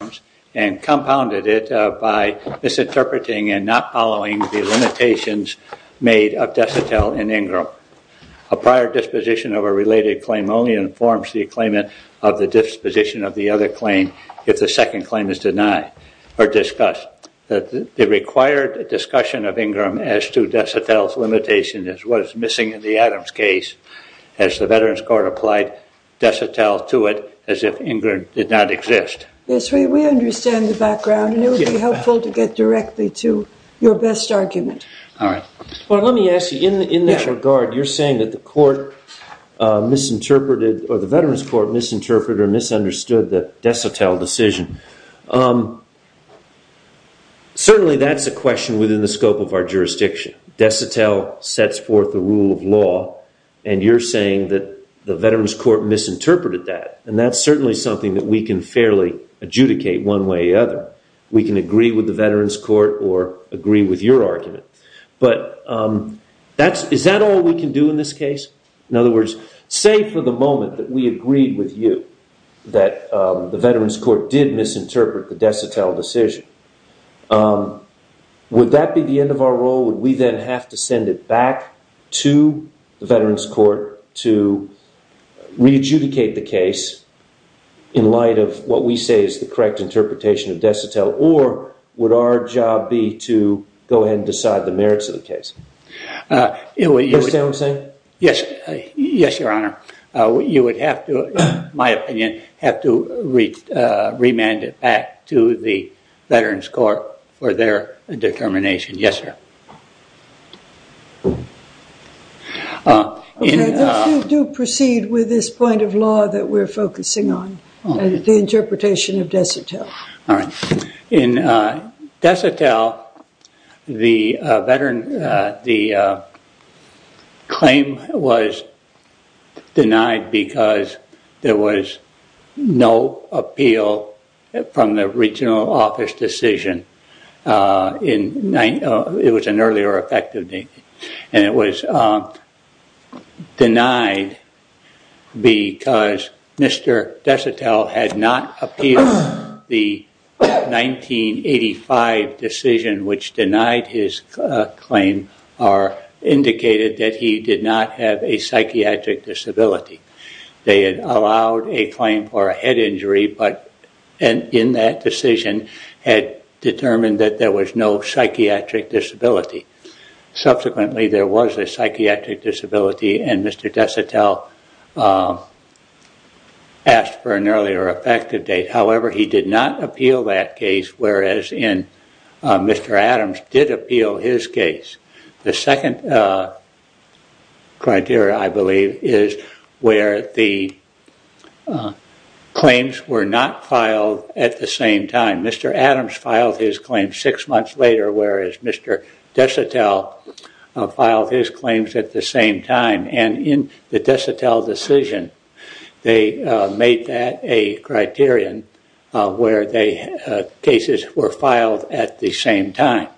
claims and compounded it by misinterpreting and not following the limitations made of Desotel and Ingram. A prior disposition of a related claim only informs the claimant of the disposition of the other claim if the second claim is denied or discussed. The required discussion of Ingram as to Desotel's limitation is what is missing in the Adams case as the Veterans Court applied Desotel to it as if Ingram did not exist. Yes, we understand the background and it would be helpful to get directly to your best argument. All right. Well, let me ask you, in that regard, you're saying that the court misinterpreted or the Veterans Court misinterpreted or misunderstood the Desotel decision. Certainly that's a question within the scope of our jurisdiction. Desotel sets forth the rule of law and you're saying that the Veterans Court misinterpreted that and that's certainly something that we can fairly adjudicate one way or the other. We can agree with the Veterans Court or agree with your argument. But is that all we can do in this case? In other words, say for the moment that we agreed with you that the Veterans Court did misinterpret the Desotel decision. Would that be the end of our role? Would we then have to send it back to the Veterans Court to re-adjudicate the case in light of what we say is the correct interpretation of Desotel? Or would our job be to go ahead and decide the merits of the case? Do you understand what I'm saying? Yes, Your Honor. You would have to, in my opinion, have to remand it back to the Veterans Court for their determination. Yes, sir. Okay. Let's do proceed with this point of law that we're focusing on, the interpretation of Desotel. All right. In Desotel, the claim was denied because there was no appeal from the regional office decision. It was an earlier effect, and it was denied because Mr. Desotel had not appealed the 1985 decision, which denied his claim or indicated that he did not have a psychiatric disability. They had allowed a claim for a head injury, but in that decision had determined that there was no psychiatric disability. Subsequently, there was a psychiatric disability, and Mr. Desotel asked for an earlier effective date. However, he did not appeal that case, whereas Mr. Adams did appeal his case. The second criteria, I believe, is where the claims were not filed at the same time. Mr. Adams filed his claim six months later, whereas Mr. Desotel filed his claims at the same time, and in the Desotel decision, they made that a criterion where cases were filed at the same time,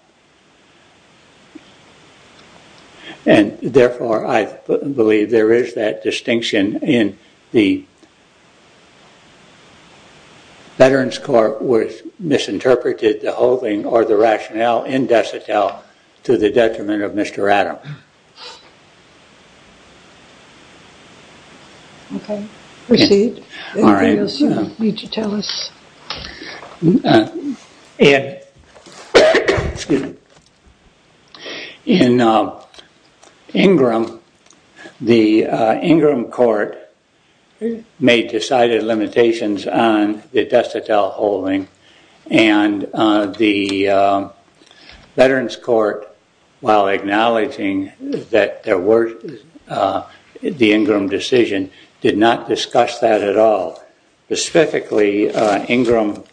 and therefore, I believe there is that distinction in the veterans court was misinterpreted the whole thing or the rationale in Desotel to the detriment of Mr. Adams. In Ingram, the Ingram court made decided limitations on the Desotel holding, and the veterans court while acknowledging that there were the Ingram decision did not discuss that at all. Specifically, Ingram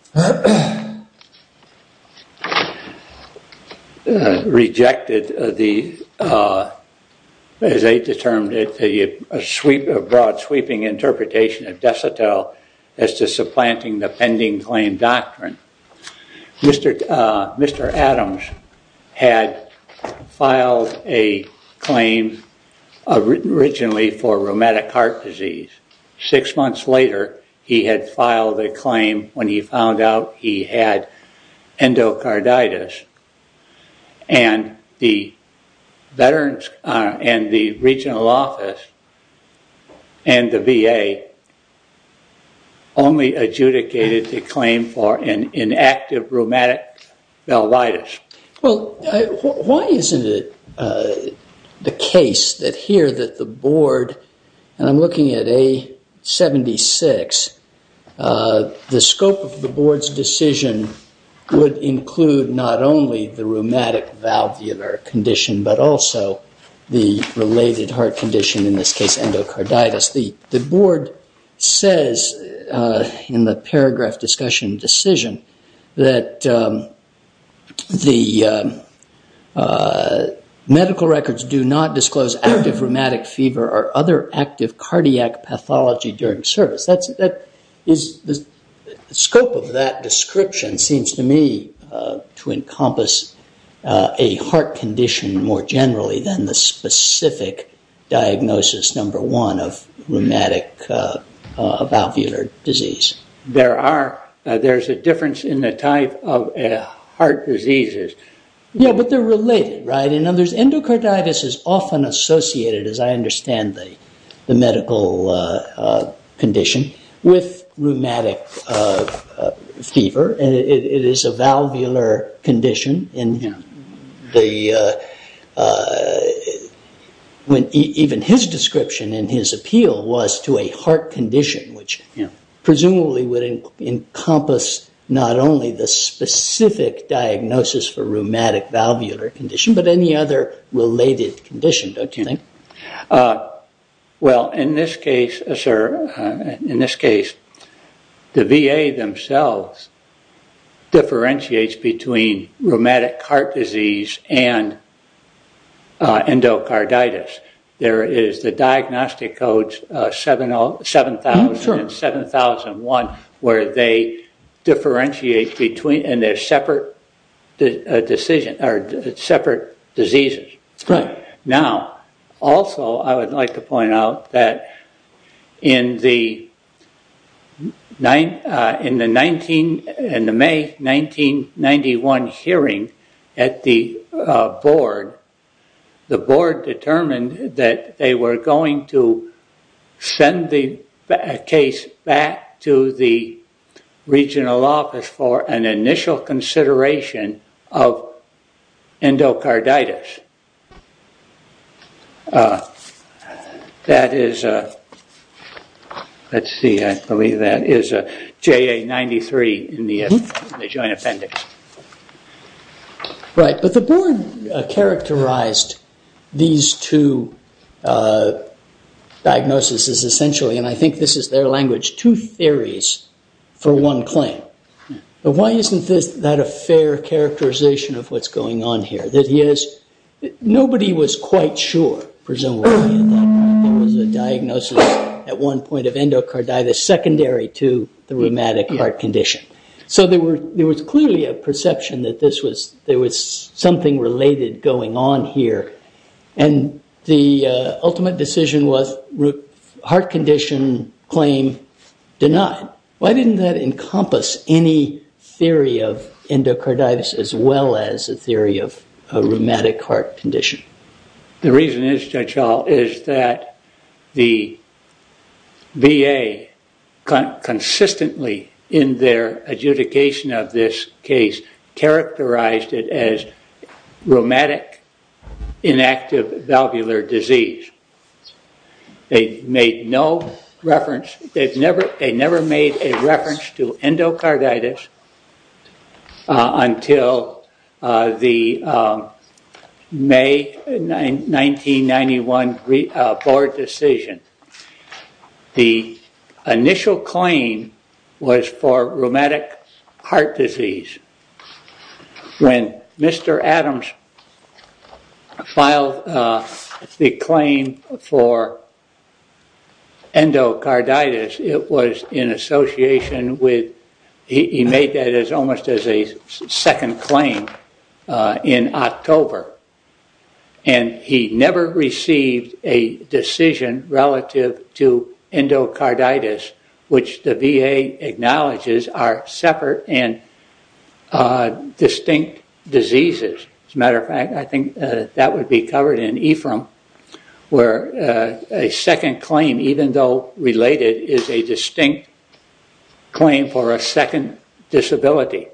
rejected the, as they determined it, a broad sweeping interpretation of Desotel as to supplanting the pending claim doctrine. Mr. Adams had filed a claim originally for rheumatic heart disease. Six months later, he had filed a claim when he found out he had endocarditis, and the regional office and the VA only adjudicated the claim for an inactive rheumatic velvitis. Well, why isn't it the case that here that the board, and I'm looking at A76, the scope of the board's decision would include not only the rheumatic valvular condition, but also the related heart condition, in this case, endocarditis. The board says in the paragraph discussion decision that the medical records do not disclose active rheumatic fever or other active cardiac pathology during service. The scope of that description seems to me to encompass a heart condition more generally than the specific diagnosis, number one, of rheumatic valvular disease. There's a difference in the type of heart diseases. Yeah, but they're related, right? Endocarditis is often associated, as I understand, the medical condition with rheumatic fever, and it is a valvular condition. Even his description and his appeal was to a heart condition, which presumably would encompass not only the specific diagnosis for rheumatic valvular condition, but any other related condition, don't you think? Well, in this case, sir, in this case, the VA themselves differentiates between rheumatic heart disease and endocarditis. There is the diagnostic codes 7000 and 7001, where they differentiate between, and they're separate diseases. Now, also, I would like to point out that in the May 1991 hearing at the board, the board determined that they were going to send the case back to the regional office for an initial consideration of endocarditis. That is a, let's see, I believe that is a JA93 in the joint appendix. Right, but the board characterized these two diagnoses essentially, and I think this is their language, two theories for one claim. Why isn't that a fair characterization of what's going on here? Nobody was quite sure, presumably, that there was a diagnosis at one point of endocarditis secondary to the rheumatic heart condition. So there was clearly a perception that there was something related going on here, and the ultimate decision was heart condition claim denied. Why didn't that encompass any theory of endocarditis as well as a theory of a rheumatic heart condition? The reason is, Judge Hall, is that the VA consistently in their adjudication of this case characterized it as rheumatic inactive valvular disease. They made no reference, they never made a 1991 board decision. The initial claim was for rheumatic heart disease. When Mr. Adams filed the claim for endocarditis, it was in association with, he made that almost as a second claim in October, and he never received a decision relative to endocarditis, which the VA acknowledges are separate and distinct diseases. As a matter of fact, I think that would be covered in EFRM, where a second claim, even though related, is a distinct claim for a second disability.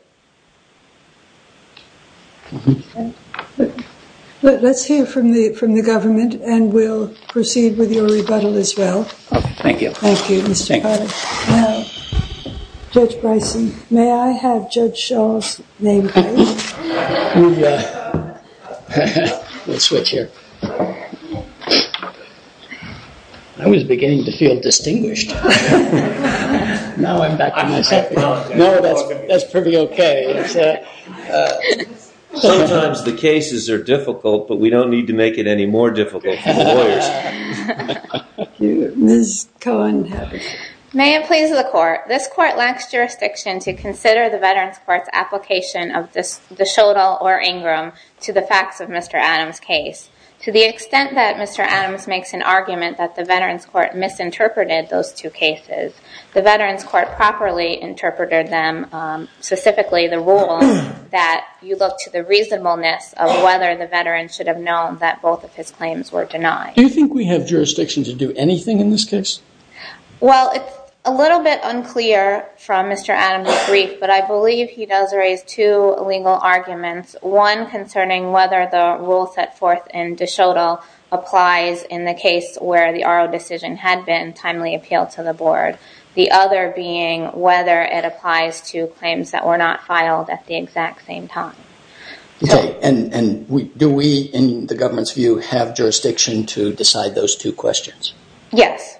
Let's hear from the government, and we'll proceed with your rebuttal as well. Thank you. Thank you, Mr. Potter. Judge Bryson, may I have Judge Shaw's name, please? We'll switch here. I was beginning to feel distinguished. Now I'm back to myself. That's pretty okay. Sometimes the cases are difficult, but we don't need to make it any more difficult for the lawyers. Ms. Cohen. May it please the court, this court lacks jurisdiction to consider the Veterans Court's application of the Schoedl or Ingram to the facts of Mr. Adams' case. To the extent that Mr. Adams makes an argument that the Veterans Court misinterpreted those two cases, the Veterans that you look to the reasonableness of whether the veteran should have known that both of his claims were denied. Do you think we have jurisdiction to do anything in this case? Well, it's a little bit unclear from Mr. Adams' brief, but I believe he does raise two legal arguments. One concerning whether the rule set forth in De Schoedl applies in the case where the RO decision had been timely appealed to the board. The other being whether it applies to the case where the two cases were not filed at the exact same time. Okay, and do we in the government's view have jurisdiction to decide those two questions? Yes.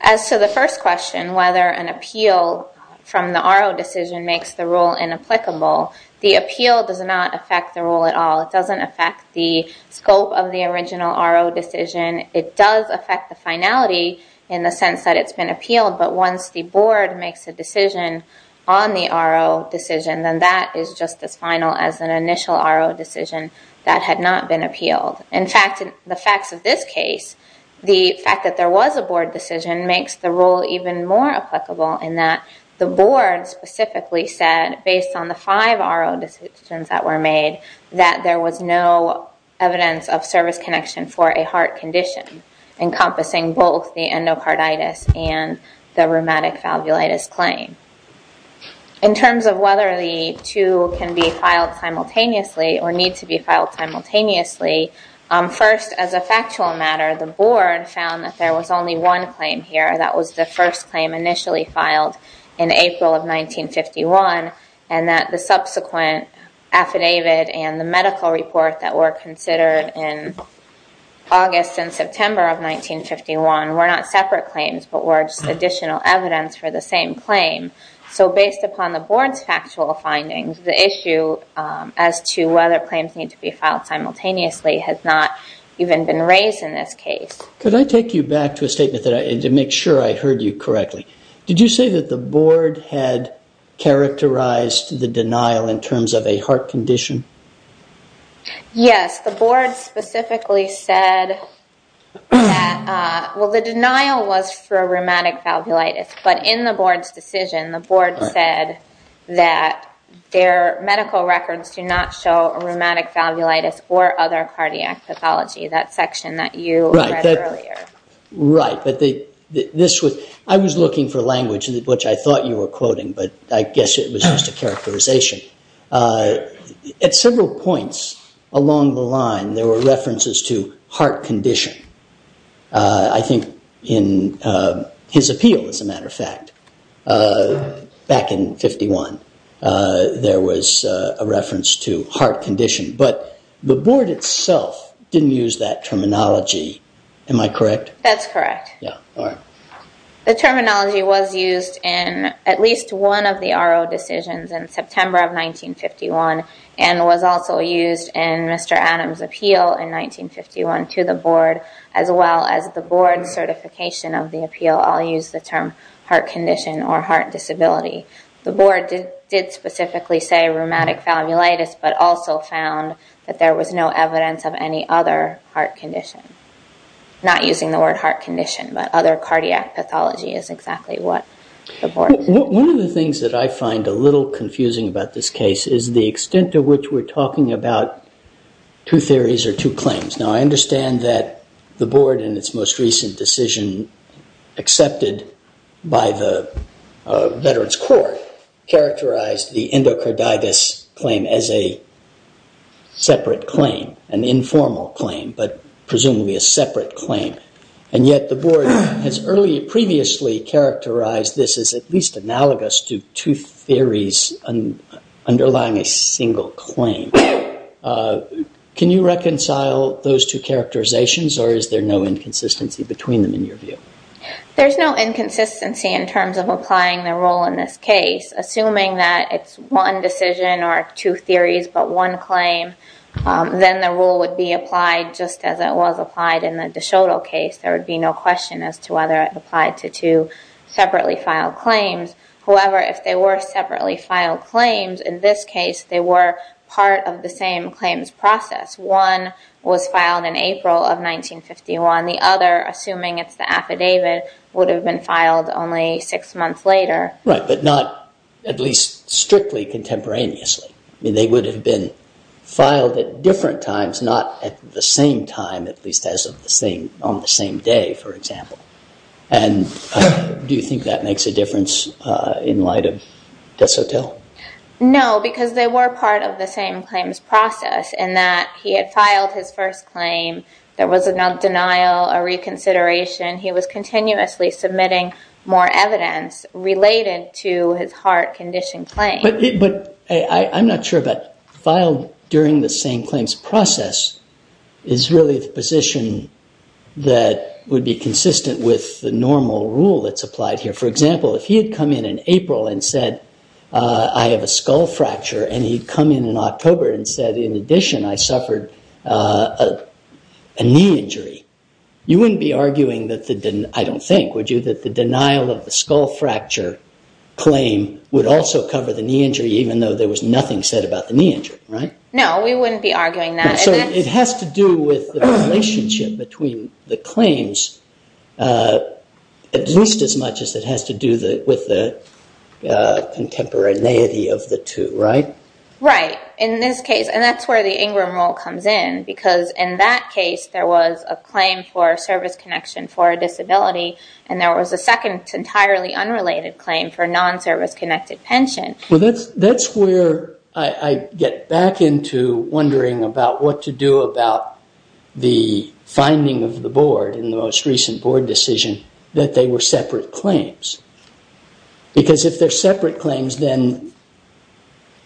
As to the first question, whether an appeal from the RO decision makes the rule inapplicable, the appeal does not affect the rule at all. It doesn't affect the scope of the original RO decision. It does affect the finality in the sense that it's appealed, but once the board makes a decision on the RO decision, then that is just as final as an initial RO decision that had not been appealed. In fact, the facts of this case, the fact that there was a board decision makes the rule even more applicable in that the board specifically said, based on the five RO decisions that were made, that there was no evidence of service connection for a heart condition, encompassing both the endocarditis and the rheumatic valvulitis claim. In terms of whether the two can be filed simultaneously or need to be filed simultaneously, first, as a factual matter, the board found that there was only one claim here. That was the first claim initially filed in April of 1951, and that the subsequent affidavit and medical report that were considered in August and September of 1951 were not separate claims, but were just additional evidence for the same claim. So based upon the board's factual findings, the issue as to whether claims need to be filed simultaneously has not even been raised in this case. Could I take you back to a statement to make sure I heard you correctly? Did you say that the board had characterized the denial in terms of a heart condition? Yes. The board specifically said that, well, the denial was for rheumatic valvulitis, but in the board's decision, the board said that their medical records do not show rheumatic valvulitis or other cardiac pathology, that section that you read earlier. Right. But this was, I was looking for language which I thought you were quoting, but I guess it was just a characterization. At several points along the line, there were references to heart condition. I think in his appeal, as a matter of fact, back in 1951, there was a reference to heart condition, but the board itself didn't use that terminology. Am I correct? That's correct. The terminology was used in at least one of the RO decisions in September of 1951, and was also used in Mr. Adams' appeal in 1951 to the board, as well as the board's certification of the appeal. I'll use the term heart condition or heart disability. The board did specifically say rheumatic valvulitis, but also found that there was no evidence of any other heart condition. Not using the word heart condition, but other cardiac pathology is exactly what the board... One of the things that I find a little confusing about this case is the extent to which we're talking about two theories or two claims. Now, I understand that the board in its most recent decision, accepted by the Veterans Court, characterized the endocarditis claim as a separate claim, an informal claim, but presumably a separate claim. Yet the board has previously characterized this as at least those two characterizations, or is there no inconsistency between them in your view? There's no inconsistency in terms of applying the rule in this case. Assuming that it's one decision or two theories, but one claim, then the rule would be applied just as it was applied in the DeShoto case. There would be no question as to whether it applied to two separately filed claims. However, if they were separately filed claims, in this case, they were part of the same claims process. One was filed in April of 1951. The other, assuming it's the affidavit, would have been filed only six months later. Right, but not at least strictly contemporaneously. They would have been filed at different times, not at the same time, at least on the same day, for example. Do you think that makes a difference in light of DeShoto? No, because they were part of the same claims process in that he had filed his first claim. There was a denial, a reconsideration. He was continuously submitting more evidence related to his heart condition claim. But I'm not sure that filed during the same claims process is really the position that would be consistent with the normal rule that's applied here. For example, if he had come in in April and said, I have a skull fracture, and he'd come in in October and said, in addition, I suffered a knee injury, you wouldn't be arguing that the, I don't think, would you, that the denial of the skull fracture claim would also cover the knee injury, even though there was nothing said about the knee injury, right? No, we wouldn't be arguing that. So it has to do with the relationship between the claims, at least as much as it has to do with the contemporaneity of the two, right? Right. In this case, and that's where the Ingram rule comes in, because in that case, there was a claim for service connection for a disability, and there was a second entirely unrelated claim for non-service connected pension. Well, that's where I get back into wondering about what to do about the finding of the board in the most recent board decision that they were separate claims. Because if they're separate claims, then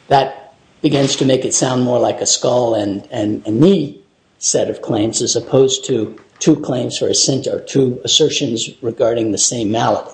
that begins to make it sound more like a skull and knee set of claims as opposed to two claims or two assertions regarding the same malady.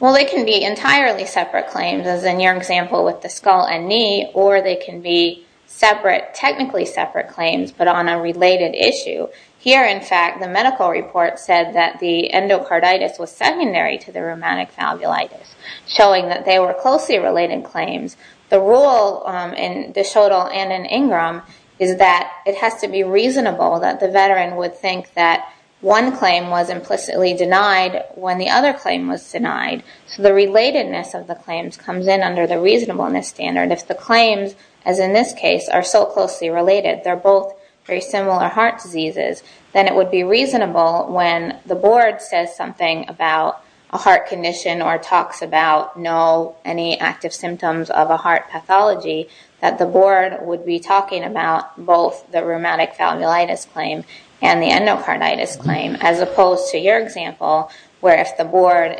Well, they can be entirely separate claims, as in your example with the skull and knee, or they can be separate, technically separate claims, but on a related issue. Here, in fact, the medical report said that the endocarditis was secondary to the pneumatic falbulitis, showing that they were closely related claims. The rule in DeShoto and in Ingram is that it has to be reasonable that the veteran would think that one claim was implicitly denied when the other claim was denied. So the relatedness of the claims comes in under the reasonableness standard. If the claims, as in this case, are so closely related, they're both very similar heart diseases, then it would be reasonable when the board says something about a heart condition or talks about no, any active symptoms of a heart pathology, that the board would be talking about both the rheumatic falbulitis claim and the endocarditis claim, as opposed to your example, where if the board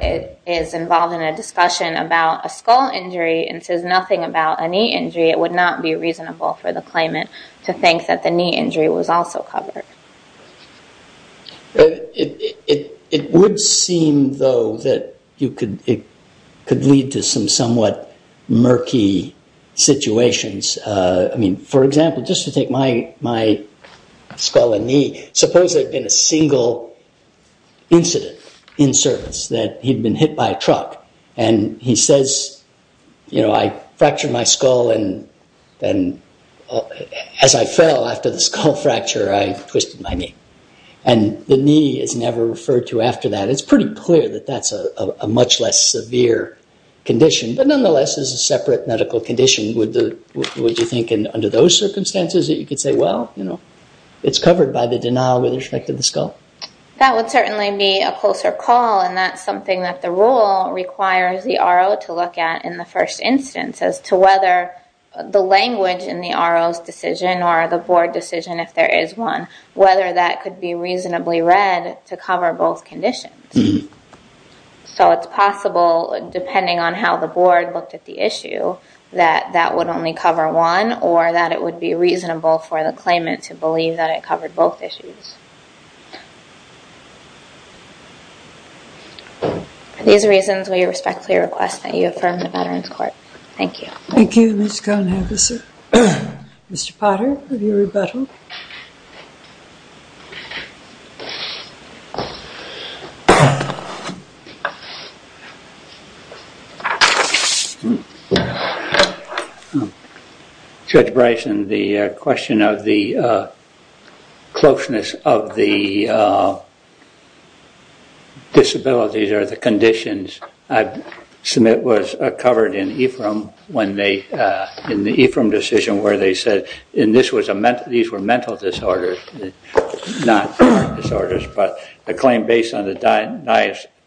is involved in a discussion about a skull injury and says nothing about a knee injury, it would not be reasonable for the claimant to think that the knee injury was also covered. It would seem, though, that it could lead to some somewhat murky situations. I mean, for example, just to take my skull and knee, suppose there had been a single incident in service that he'd been hit by a truck, and he says, you know, I fractured my skull and as I fell after the skull fracture, I twisted my knee, and the knee is never referred to after that. It's pretty clear that that's a much less severe condition, but nonetheless, it's a separate medical condition. Would you think under those circumstances that you could say, well, you know, it's covered by the denial with respect to the skull? That would certainly be a closer call, and that's something that the rule requires the RO to look at in the first instance as to whether the language in the RO's decision or the board decision if there is one, whether that could be reasonably read to cover both conditions. So it's possible, depending on how the board looked at the issue, that that would only cover one, or that it would be reasonable for the claimant to believe that it covered both issues. Are these reasons why you respectfully request that you affirm the Veterans Court? Thank you. Thank you, Ms. Conagher, sir. Mr. Potter, have you rebuttaled? Judge Bryson, the question of the closeness of the disabilities or the conditions I submit was covered in the EFRM decision where they said, and these were mental disorders, not chronic disorders, but a claim based on the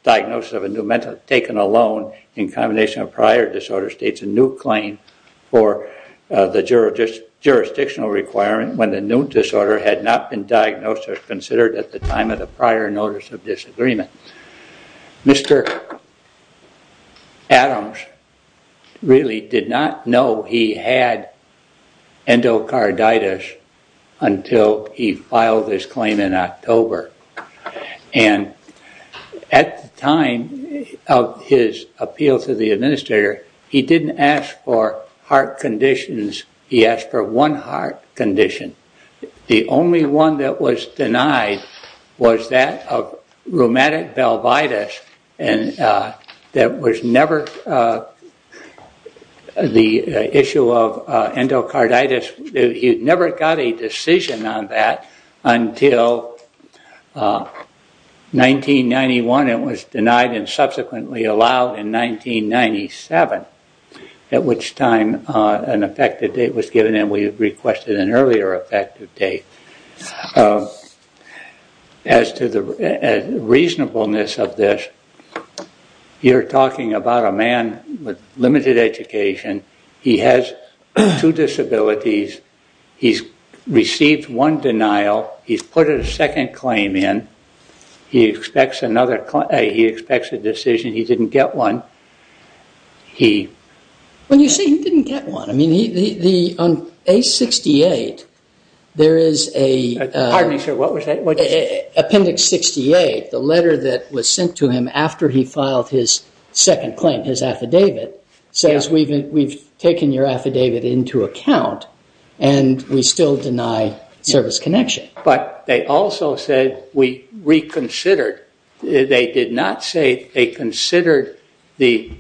diagnosis of a new mental, taken alone in combination of prior disorder states a new claim for the jurisdictional requirement when the new disorder had not been diagnosed or considered at the time of the prior notice of disagreement. Mr. Adams really did not know he had endocarditis until he filed his claim in October. And at the time of his appeal to the administrator, he didn't ask for heart conditions, he asked for one heart condition. The only one that was denied was that of rheumatic velvitis that was never the issue of endocarditis. He never got a decision on that until 1991. It was denied and subsequently allowed in 1997, at which time an effective date of as to the reasonableness of this, you're talking about a man with limited education, he has two disabilities, he's received one denial, he's put a second claim in, he expects another, he expects a decision, he didn't get one. When you say he didn't get one, on page 68 there is an appendix 68, the letter that was sent to him after he filed his second claim, his affidavit, says we've taken your affidavit into account and we still deny service connection. But they also said we reconsidered, they did not say they considered the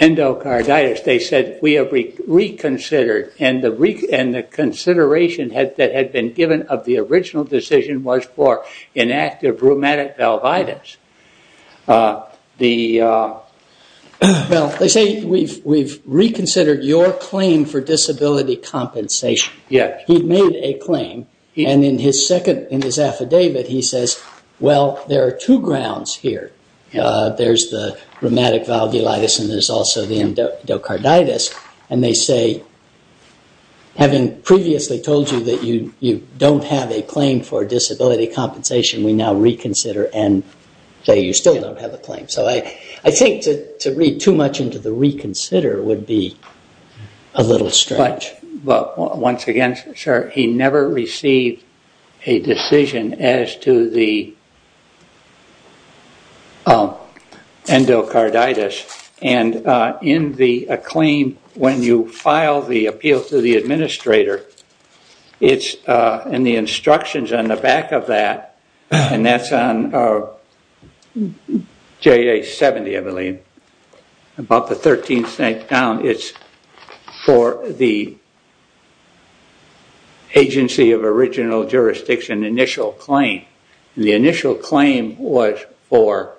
endocarditis, they said we have reconsidered and the consideration that had been given of the original decision was for inactive rheumatic velvitis. They say we've reconsidered your claim for disability compensation. He made a claim and in his second, in his affidavit, he says, well, there are two grounds here. There's the rheumatic valvulitis and there's also the endocarditis and they say, having previously told you that you don't have a claim for disability compensation, we now reconsider and say you still don't have a claim. So I think to read too much into the reconsider would be a little strange. But once again, sir, he never received a decision as to the endocarditis and in the claim when you file the appeal to the administrator, it's in the instructions on the back of that, and that's on JA 70, I believe, about the 13th night down, it's for the agency of original jurisdiction initial claim. The initial claim was for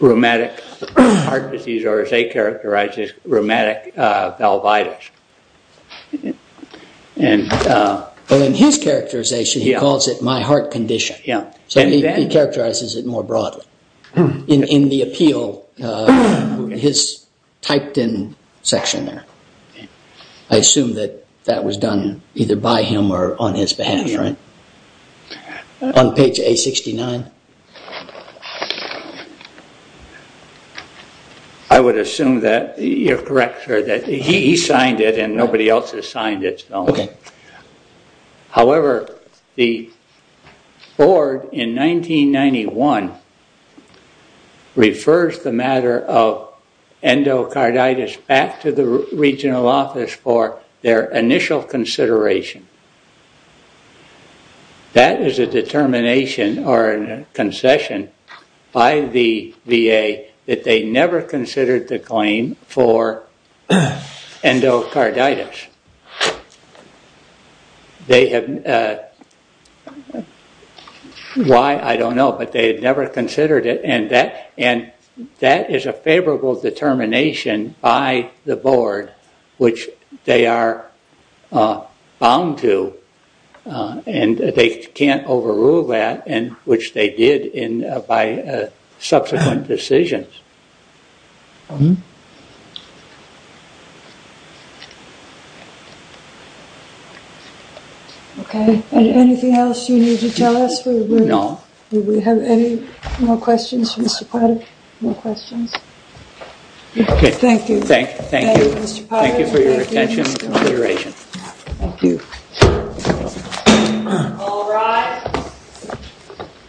rheumatic heart disease or as they characterized it, rheumatic velvitis. And in his characterization, he calls it my heart condition. Yeah. So he characterizes it more broadly. In the appeal, his typed in section there, I assume that that was done either by him or on his behalf, right? On page 869. I would assume that you're correct, sir, that he signed it and nobody else has signed it. However, the board in 1991 refers the matter of endocarditis back to the regional office for their initial consideration. That is a determination or a concession by the VA that they never considered the claim for endocarditis. Why, I don't know, but they had never considered it and that is a favorable determination by the board. They were bound to, and they can't overrule that, which they did by subsequent decisions. Okay. Anything else you need to tell us? No. Do we have any more questions for Mr. Patek? No. Okay. Thank you. Thank you. Thank you, Mr. Patek. Thank you for your attention and consideration. Thank you. All rise.